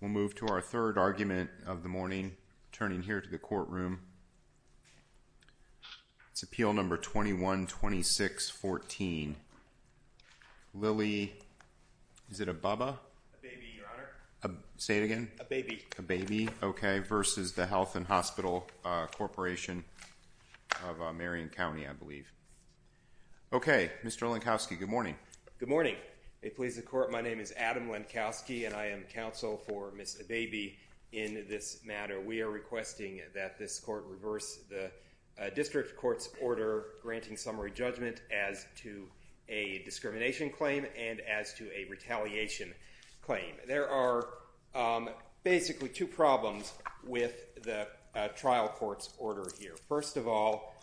We'll move to our third argument of the morning. Turning here to the courtroom. It's appeal number 21-26-14. Lilly, is it a Bubba? Say it again? A baby. A baby, okay, versus the Health and Hospital Corporation of Marion County, I believe. Okay, Mr. Lenkowski, good morning. Good morning. May it please the court, my name is Adam Lenkowski and I am counsel for Ms. Abebe in this matter. We are requesting that this court reverse the district court's order granting summary judgment as to a discrimination claim and as to a retaliation claim. There are basically two problems with the trial court's order here. First of all,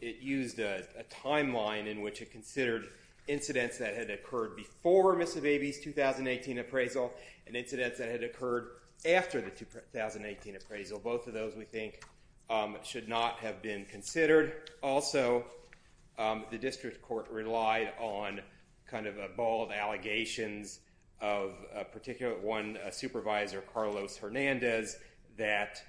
it used a timeline in which it considered incidents that had occurred before Ms. Abebe's 2018 appraisal and incidents that had occurred after the 2018 appraisal. Both of those, we think, should not have been considered. Also, the district court relied on kind of a ball of allegations of a particular one, Supervisor Carlos Hernandez, that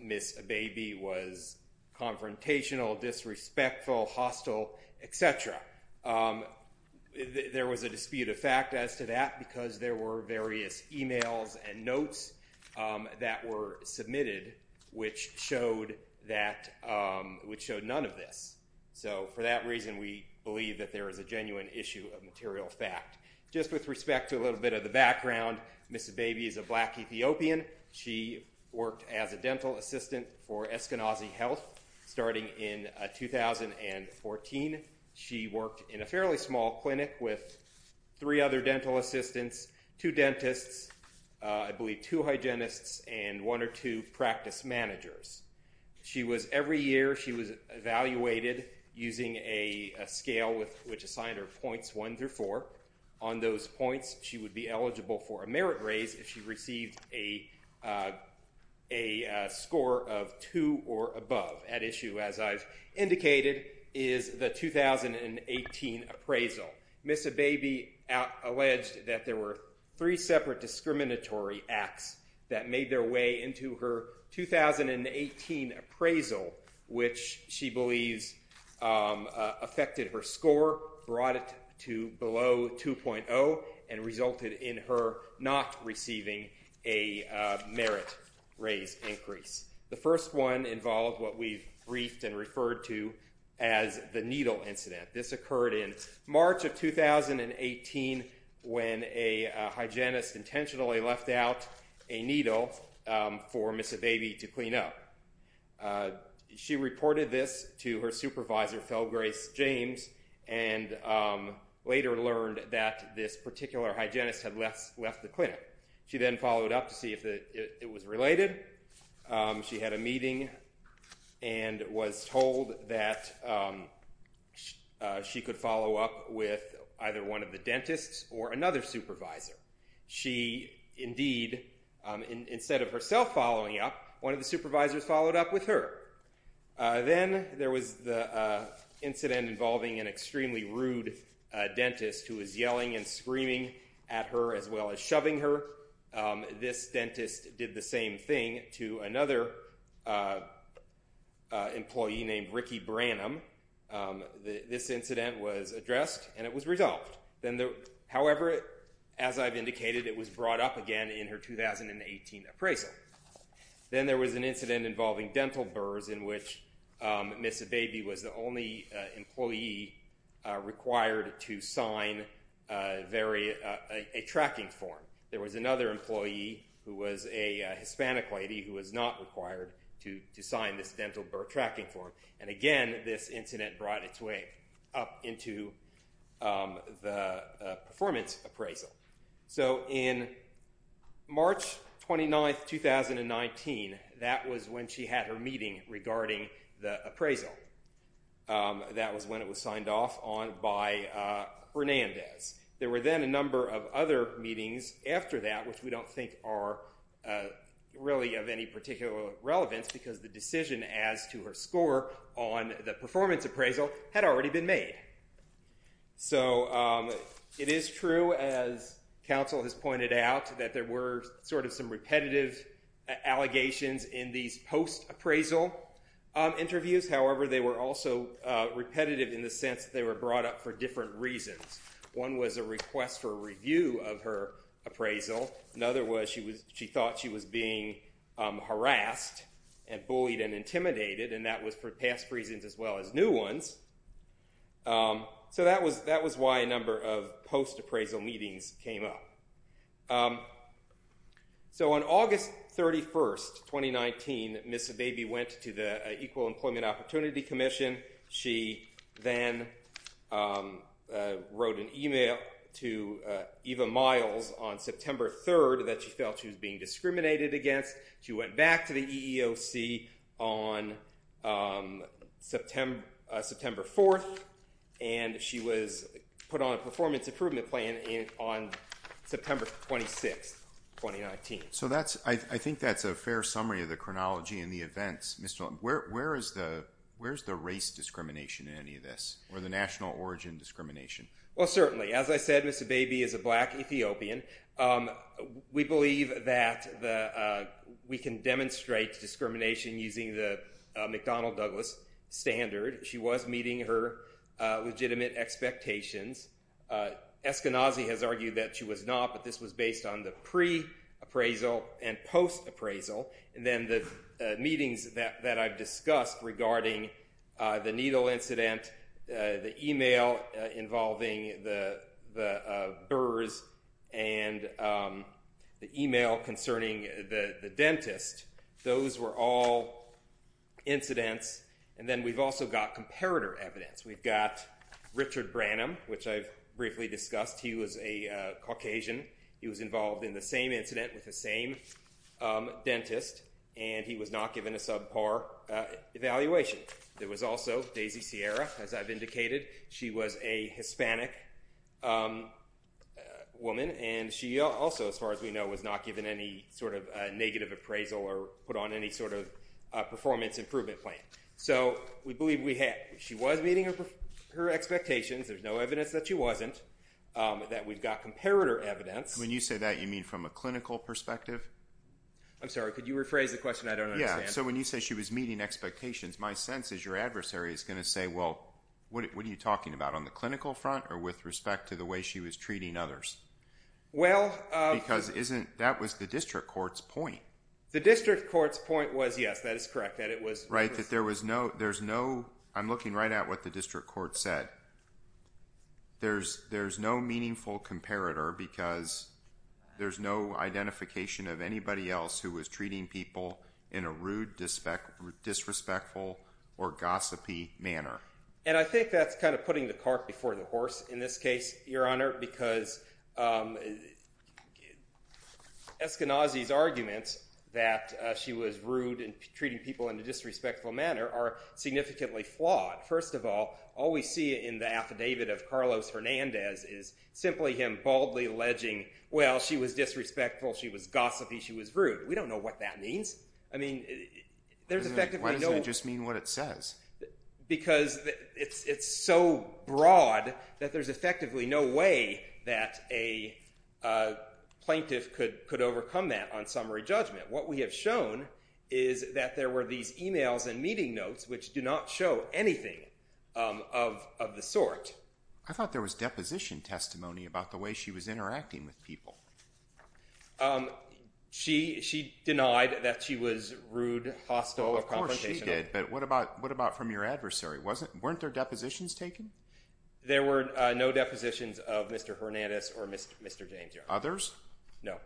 Ms. Abebe was confrontational, disrespectful, hostile, etc. There was a dispute of fact as to that because there were various emails and notes that were submitted which showed none of this. So, for that reason, we believe that there is a genuine issue of She worked as a dental assistant for Eskenazi Health starting in 2014. She worked in a fairly small clinic with three other dental assistants, two dentists, I believe two hygienists and one or two practice managers. She was, every year she was evaluated using a scale which assigned her points one through four. On those points, she would be eligible for a merit raise if she received a score of two or above. At issue, as I've indicated, is the 2018 appraisal. Ms. Abebe alleged that there were three separate discriminatory acts that made their way into her 2018 appraisal which she believes affected her score, brought it to below 2.0 and resulted in her not receiving a merit raise increase. The first one involved what we've briefed and referred to as the needle incident. This occurred in March of 2018 when a hygienist intentionally left out a needle for Ms. Abebe to clean up. She reported this to her supervisor, Phil Grace James, and later learned that this particular hygienist had left the clinic. She then followed up to see if it was related. She had a meeting and was told that she could follow up with either one of the dentists or another supervisor. She, indeed, instead of herself following up, one of the supervisors followed up with her. Then there was the incident involving an extremely rude dentist who was yelling and screaming at her as well as shoving her. This dentist did the same thing to another employee named Ricky Branham. This incident was addressed and it was resolved. However, as I've indicated, it was brought up again in her 2018 appraisal. Then there was an incident involving dental burrs in which Ms. Abebe was the only employee required to sign a tracking form. There was another employee who was a Hispanic lady who was not required to sign this dental burr March 29, 2019, that was when she had her meeting regarding the appraisal. That was when it was signed off on by Hernandez. There were then a number of other meetings after that which we don't think are really of any particular relevance because the decision as to her score on the performance appraisal had already been made. It is true, as counsel has pointed out, that there were sort of some repetitive allegations in these post-appraisal interviews. However, they were also repetitive in the sense that they were brought up for different reasons. One was a request for a review of her appraisal. Another was she thought she was being harassed and bullied and intimidated, and that was for past reasons as well as new ones. So that was why a number of post-appraisal meetings came up. So on August 31, 2019, Ms. Abebe went to the Equal Employment Opportunity Commission. She then wrote an email to Eva Miles on September 3 that she felt she was being discriminated against. She went back to the EEOC on September 4, and she was put on a performance improvement plan on September 26, 2019. So I think that's a fair summary of the chronology and the events. Where is the race discrimination in any of this, or the national origin discrimination? Well, certainly. As I said, Ms. Abebe is a black Ethiopian. We believe that we can demonstrate discrimination using the McDonnell-Douglas standard. She was meeting her legitimate expectations. Eskenazi has argued that she was not, but this was based on the pre-appraisal and post-appraisal. And then the meetings that I've discussed regarding the needle incident, the email involving the burrs, and the email concerning the dentist, those were all incidents. And then we've also got comparator evidence. We've got Richard Branham, which I've briefly discussed. He was a Caucasian. He was involved in the same incident with the same dentist, and he was not given a subpar evaluation. There was also Daisy Sierra, as I've indicated. She was a Hispanic woman, and she also, as far as we know, was not given any sort of negative appraisal or put on any sort of performance improvement plan. So we believe she was meeting her expectations. There's no evidence that she wasn't. That we've got comparator evidence. When you say that, you mean from a clinical perspective? I'm sorry, could you rephrase the question? I don't understand. Yeah. So when you say she was meeting expectations, my sense is your adversary is going to say, well, what are you talking about? On the clinical front or with respect to the way she was treating others? Because that was the district court's point. The district court's point was, yes, that is correct. Right, that there was no, there's no, I'm looking right at what the district court said. There's no meaningful comparator because there's no identification of anybody else who was treating people in a rude, disrespectful, or gossipy manner. And I think that's kind of putting the cart before the horse in this case, Your Honor, because Eskenazi's arguments that she was rude and treating people in a disrespectful manner are significantly flawed. First of all, all we see in the affidavit of Carlos Fernandez is simply him baldly alleging, well, she was disrespectful, she was gossipy, she was rude. We don't know what that means. I mean, there's effectively no- Why doesn't it just mean what it says? Because it's so broad that there's effectively no way that a plaintiff could overcome that on summary judgment. What we have shown is that there were these emails and meeting notes which do not show anything of the sort. I thought there was deposition testimony about the way she was interacting with people. She denied that she was rude, hostile, or confrontational. She did, but what about from your adversary? Weren't there depositions taken? There were no depositions of Mr. Fernandez or Mr. James, Your Honor. Others? No.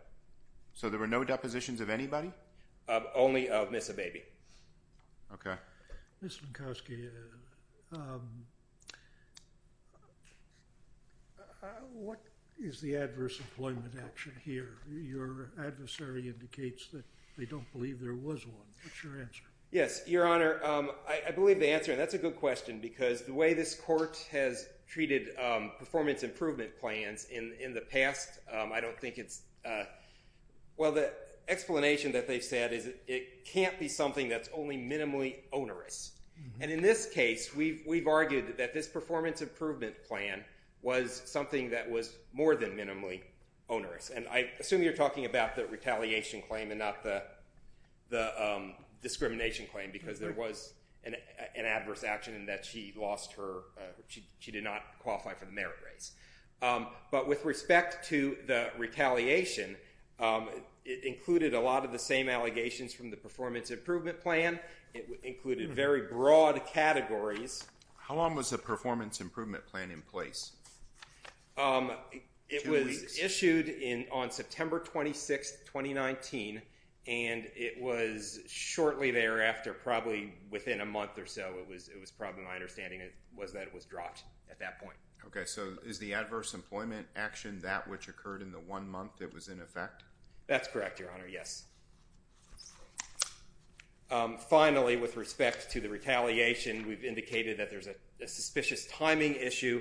So there were no depositions of anybody? Only of Ms. Abebe. Okay. Ms. Minkowski, what is the adverse employment action here? Your adversary indicates that they don't believe there was one. What's your answer? Yes. Your Honor, I believe the answer, and that's a good question, because the way this court has treated performance improvement plans in the past, I don't think it's- Well, the explanation that they've said is it can't be something that's only minimally onerous. And in this case, we've argued that this performance improvement plan was something that was more than minimally onerous. And I assume you're talking about the retaliation claim and not the discrimination claim, because there was an adverse action in that she lost her- she did not qualify for the merit raise. But with respect to the retaliation, it included a lot of the same allegations from the performance improvement plan. It included very broad categories. How long was the performance improvement plan in place? Two weeks. It was issued on September 26, 2019, and it was shortly thereafter, probably within a month or so, it was- it was probably my understanding it was that it was dropped at that point. Okay, so is the adverse employment action that which occurred in the one month it was in effect? That's correct, Your Honor, yes. Finally, with respect to the retaliation, we've indicated that there's a suspicious timing issue,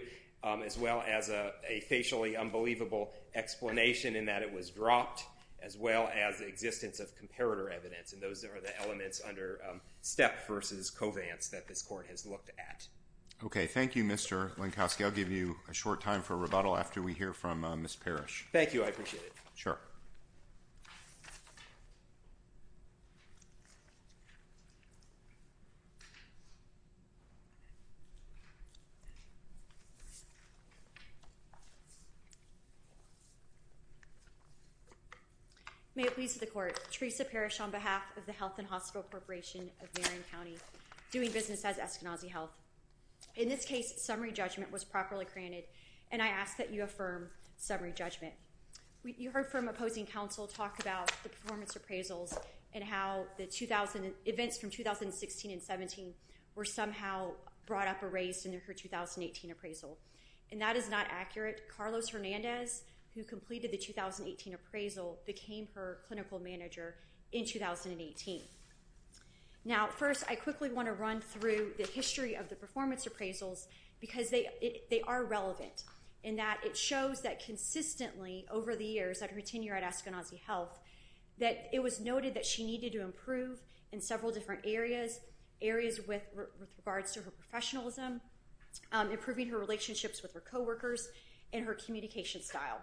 as well as a facially unbelievable explanation in that it was dropped, as well as the existence of comparator evidence, and those are the elements under Stepp versus Covance that this Court has looked at. Okay. Thank you, Mr. Lenkowski. I'll give you a short time for rebuttal after we hear from Ms. Parrish. Thank you. I appreciate it. Sure. May it please the Court, Theresa Parrish on behalf of the Health and Hospital Corporation of Marion County, doing business as Eskenazi Health. In this case, summary judgment was properly granted, and I ask that you affirm summary judgment. You heard from opposing counsel talk about the performance appraisals and how the events from 2016 and 17 were somehow brought up or raised in her 2018 appraisal, and that is not accurate. Carlos Hernandez, who completed the 2018 appraisal, became her clinical manager in 2018. Now, first, I quickly want to run through the history of the performance appraisals because they are relevant in that it shows that consistently over the years of her tenure at Eskenazi Health that it was noted that she needed to improve in several different areas, areas with regards to her professionalism, improving her relationships with her coworkers, and her communication style.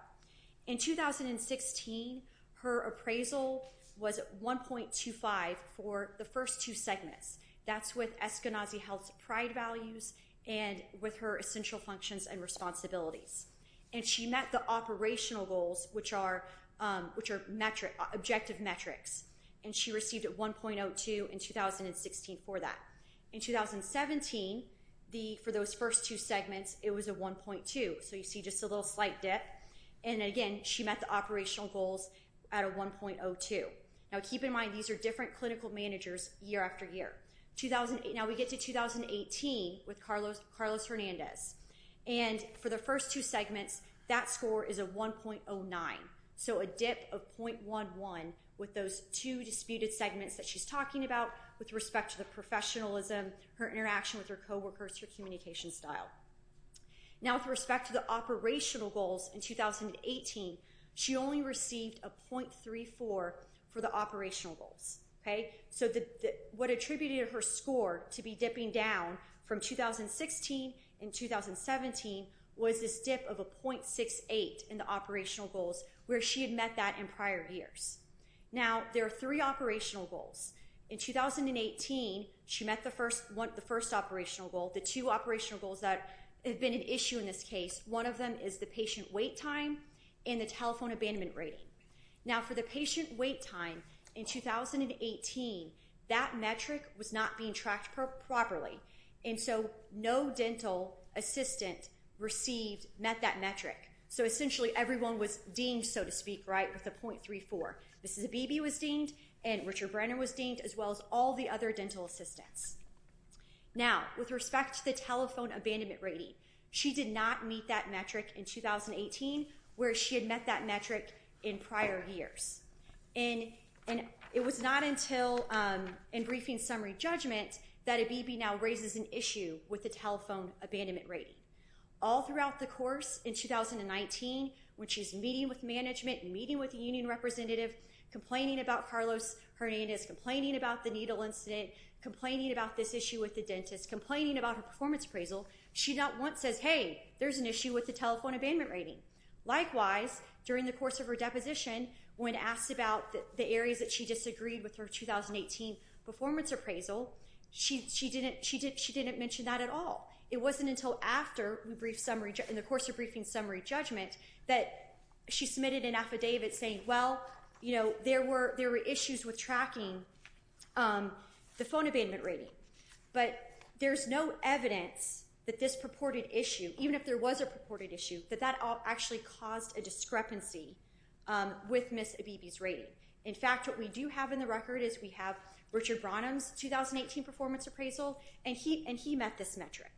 In 2016, her appraisal was 1.25 for the first two segments. That's with Eskenazi Health's pride values and with her essential functions and responsibilities. And she met the operational goals, which are objective metrics, and she received a 1.02 in 2016 for that. In 2017, for those first two segments, it was a 1.2, so you see just a little slight dip, and again, she met the operational goals at a 1.02. Now, keep in mind, these are different clinical managers year after year. Now, we get to 2018 with Carlos Hernandez, and for the first two segments, that score is a 1.09, so a dip of .11 with those two disputed segments that she's talking about with respect to the professionalism, her interaction with her coworkers, her communication style. Now, with respect to the operational goals in 2018, she only received a .34 for the operational goals, okay? So what attributed her score to be dipping down from 2016 and 2017 was this dip of a .68 in the operational goals where she had met that in prior years. Now, there are three operational goals. In 2018, she met the first operational goal. The two operational goals that have been an issue in this case, one of them is the patient wait time and the telephone abandonment rating. Now, for the patient wait time in 2018, that metric was not being tracked properly, and so no dental assistant met that metric. So essentially, everyone was deemed, so to speak, right, with a .34. Mrs. Abebe was deemed, and Richard Brenner was deemed, as well as all the other dental assistants. Now, with respect to the telephone abandonment rating, she did not meet that metric in 2018 where she had met that metric in prior years, and it was not until in briefing summary judgment that Abebe now raises an issue with the telephone abandonment rating. All throughout the course in 2019, when she's meeting with management and meeting with the union representative, complaining about Carlos Hernandez, complaining about the needle incident, complaining about this issue with the dentist, complaining about her performance appraisal, she not once says, hey, there's an issue with the telephone abandonment rating. Likewise, during the course of her deposition, when asked about the areas that she disagreed with her 2018 performance appraisal, she didn't mention that at all. It wasn't until after we briefed summary, in the course of briefing summary judgment, that she submitted an affidavit saying, well, you know, there were issues with tracking the phone abandonment rating, but there's no evidence that this purported issue, even if there was a purported issue, that that actually caused a discrepancy with Mrs. Abebe's rating. In fact, what we do have in the record is we have Richard Branham's 2018 performance appraisal, and he met this metric.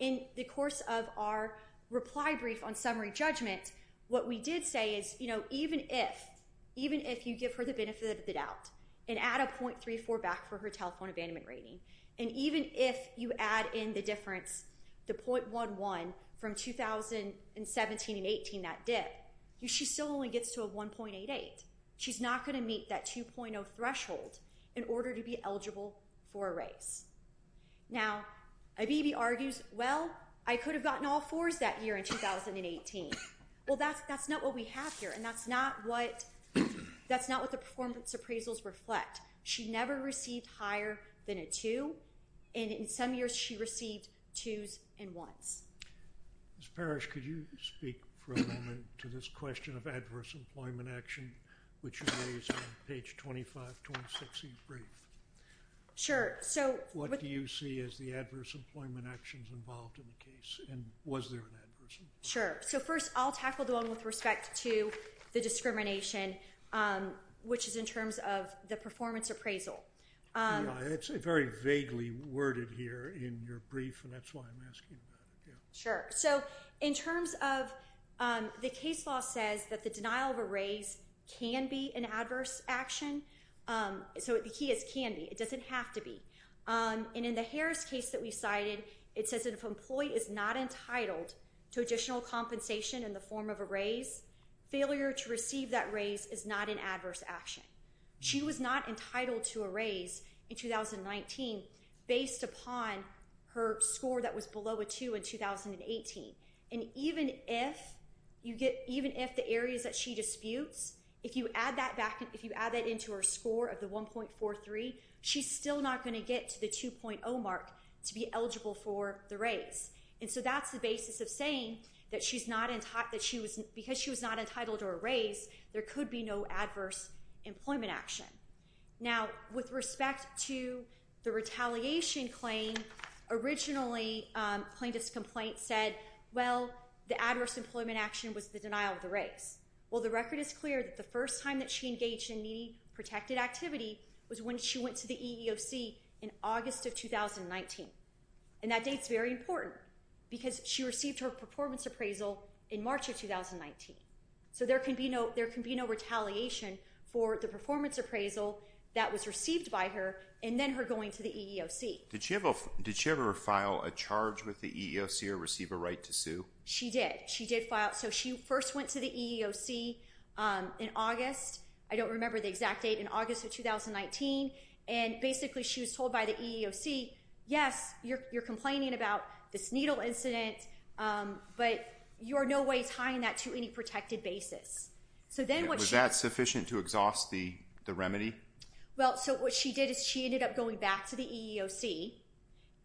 In the course of our reply brief on summary judgment, what we did say is, you know, even if, even if you give her the benefit of the doubt and add a .34 back for her telephone abandonment rating, and even if you add in the difference, the .11 from 2017 and 18, that dip, she still only gets to a 1.88. She's not going to meet that 2.0 threshold in order to be eligible for a raise. Now, Abebe argues, well, I could have gotten all 4s that year in 2018. Well, that's not what we have here, and that's not what, that's not what the performance appraisals reflect. She never received higher than a 2, and in some years, she received 2s and 1s. Ms. Parrish, could you speak for a moment to this question of adverse employment action, which you raised on page 25, 26 of your brief? Sure. So— What do you see as the adverse employment actions involved in the case, and was there an adverse— Sure. So, first, I'll tackle the one with respect to the discrimination, which is in terms of the performance appraisal. Yeah, it's very vaguely worded here in your brief, and that's why I'm asking about it. Yeah. Sure. So, in terms of, the case law says that the denial of a raise can be an adverse action. So, the key is can be. It doesn't have to be. And in the Harris case that we cited, it says that if an employee is not entitled to additional compensation in the form of a raise, failure to receive that raise is not an adverse action. She was not entitled to a raise in 2019 based upon her score that was below a 2 in 2018. And even if you get—even if the areas that she disputes, if you add that back—if you add that into her score of the 1.43, she's still not going to get to the 2.0 mark to be eligible for the raise. And so that's the basis of saying that she's not—that she was—because she was not entitled to a raise, there could be no adverse employment action. Now, with respect to the retaliation claim, originally plaintiff's complaint said, well, the adverse employment action was the denial of the raise. Well, the record is clear that the first time that she engaged in needy protected activity was when she went to the EEOC in August of 2019. And that date's very important because she received her performance appraisal in March of 2019. So there can be no—there can be no retaliation for the performance appraisal that was received by her and then her going to the EEOC. Did she ever file a charge with the EEOC or receive a right to sue? She did. She did file—so she first went to the EEOC in August. I don't remember the exact date, in August of 2019. And basically she was told by the EEOC, yes, you're complaining about this needle incident, but you are no way tying that to any protected basis. So then what she— Was that sufficient to exhaust the remedy? Well, so what she did is she ended up going back to the EEOC.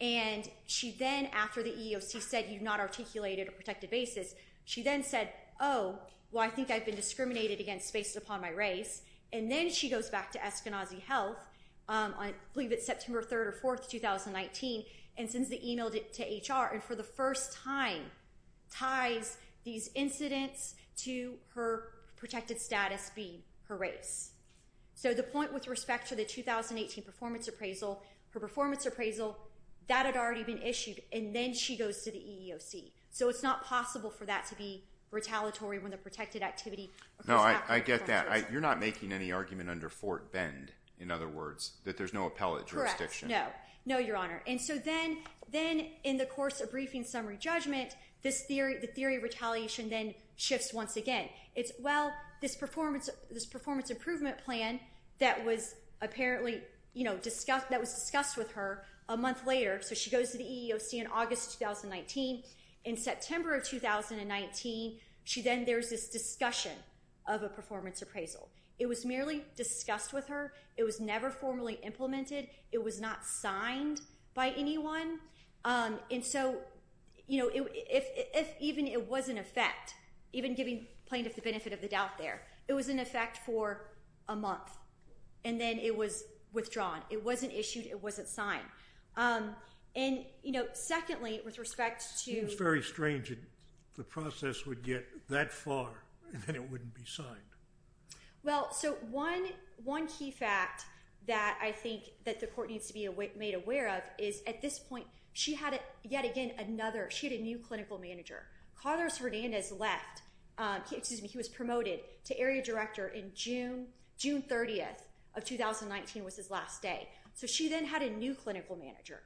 And she then, after the EEOC said, you've not articulated a protected basis, she then said, oh, well, I think I've been discriminated against based upon my raise. And then she goes back to Eskenazi Health, I believe it's September 3rd or 4th, 2019, and sends the email to HR. And for the first time, ties these incidents to her protected status being her race. So the point with respect to the 2018 performance appraisal, her performance appraisal, that had already been issued, and then she goes to the EEOC. So it's not possible for that to be retaliatory when the protected activity— No, I get that. You're not making any argument under Fort Bend, in other words, that there's no appellate jurisdiction. Correct. No. No, Your Honor. And so then, in the course of briefing summary judgment, the theory of retaliation then shifts once again. It's, well, this performance improvement plan that was apparently discussed with her a month later, so she goes to the EEOC in August 2019. In September of 2019, there's this discussion of a performance appraisal. It was merely discussed with her. It was never formally implemented. It was not signed by anyone. And so, you know, if even it was in effect, even giving plaintiff the benefit of the doubt there, it was in effect for a month, and then it was withdrawn. It wasn't issued. It wasn't signed. And, you know, secondly, with respect to— It seems very strange that the process would get that far, and then it wouldn't be signed. Well, so one key fact that I think that the court needs to be made aware of is, at this point, she had, yet again, another—she had a new clinical manager. Carlos Hernandez left—excuse me, he was promoted to area director in June, June 30th of 2019 was his last day. So she then had a new clinical manager,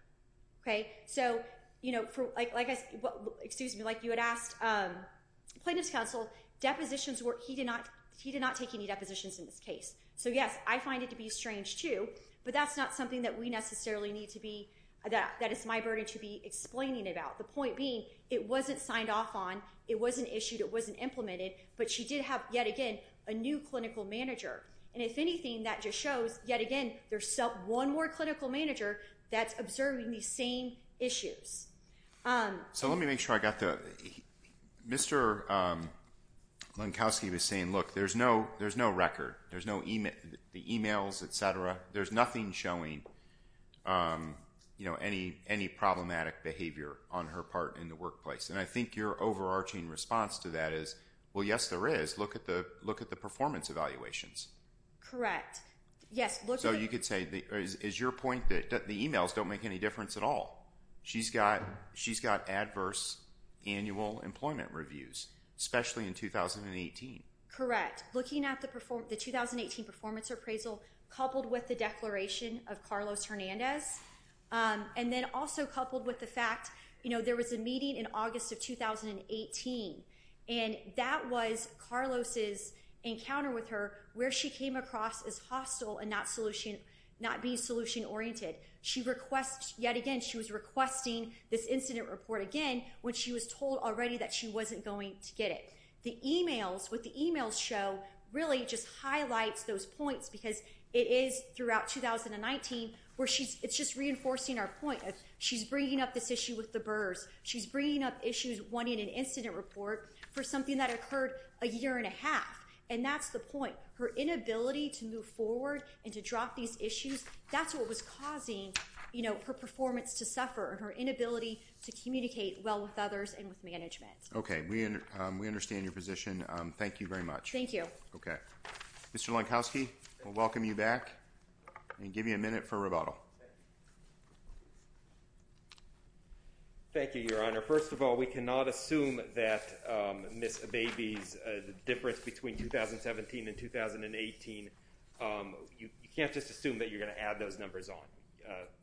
okay? So, you know, like you had asked plaintiffs' counsel, depositions were—he did not—he did not take any depositions in this case. So yes, I find it to be strange, too, but that's not something that we necessarily need to be—that is my burden to be explaining about. The point being, it wasn't signed off on. It wasn't issued. It wasn't implemented. But she did have, yet again, a new clinical manager. And if anything, that just shows, yet again, there's one more clinical manager that's observing these same issues. So let me make sure I got the—Mr. Lankowski was saying, look, there's no record. There's no emails, et cetera. There's nothing showing, you know, any problematic behavior on her part in the workplace. And I think your overarching response to that is, well, yes, there is. Look at the performance evaluations. Correct. Yes, look at the— So you could say, is your point that the emails don't make any difference at all? She's got—she's got adverse annual employment reviews, especially in 2018. Correct. Looking at the 2018 performance appraisal, coupled with the declaration of Carlos Hernandez, and then also coupled with the fact, you know, there was a meeting in August of 2018, and that was Carlos's encounter with her where she came across as hostile and not solution—not being solution-oriented. She requests—yet again, she was requesting this incident report again when she was told already that she wasn't going to get it. The emails, what the emails show, really just highlights those points because it is throughout 2019 where she's—it's just reinforcing our point of she's bringing up this issue with the Burrs. She's bringing up issues wanting an incident report for something that occurred a year and a half. And that's the point. Her inability to move forward and to drop these issues, that's what was causing, you know, her performance to suffer, her inability to communicate well with others and with management. Okay. We understand your position. Thank you very much. Thank you. Okay. Mr. Lankowski, we'll welcome you back and give you a minute for rebuttal. Thank you, Your Honor. First of all, we cannot assume that Ms. Abebe's difference between 2017 and 2018, you can't just assume that you're going to add those numbers on.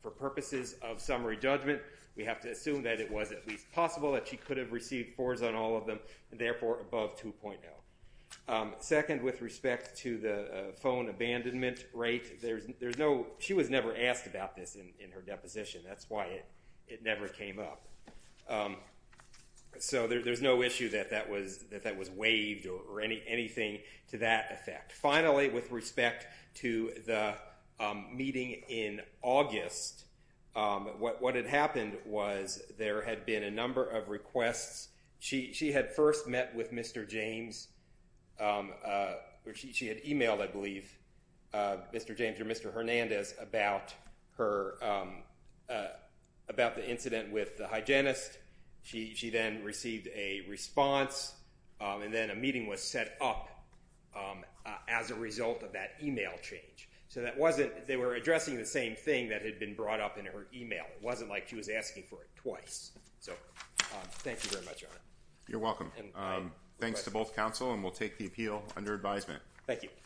For purposes of summary judgment, we have to assume that it was at least possible that she could have received fours on all of them and therefore above 2.0. Second, with respect to the phone abandonment rate, there's no—she was never asked about this in her deposition. That's why it never came up. So there's no issue that that was waived or anything to that effect. Finally, with respect to the meeting in August, what had happened was there had been a number of requests. She had first met with Mr. James, or she had emailed, I believe, Mr. James or Mr. Hernandez about her—about the incident with the hygienist. She then received a response, and then a meeting was set up as a result of that email change. So that wasn't—they were addressing the same thing that had been brought up in her email. It wasn't like she was asking for it twice. So thank you very much, Your Honor. You're welcome. Thanks to both counsel, and we'll take the appeal under advisement.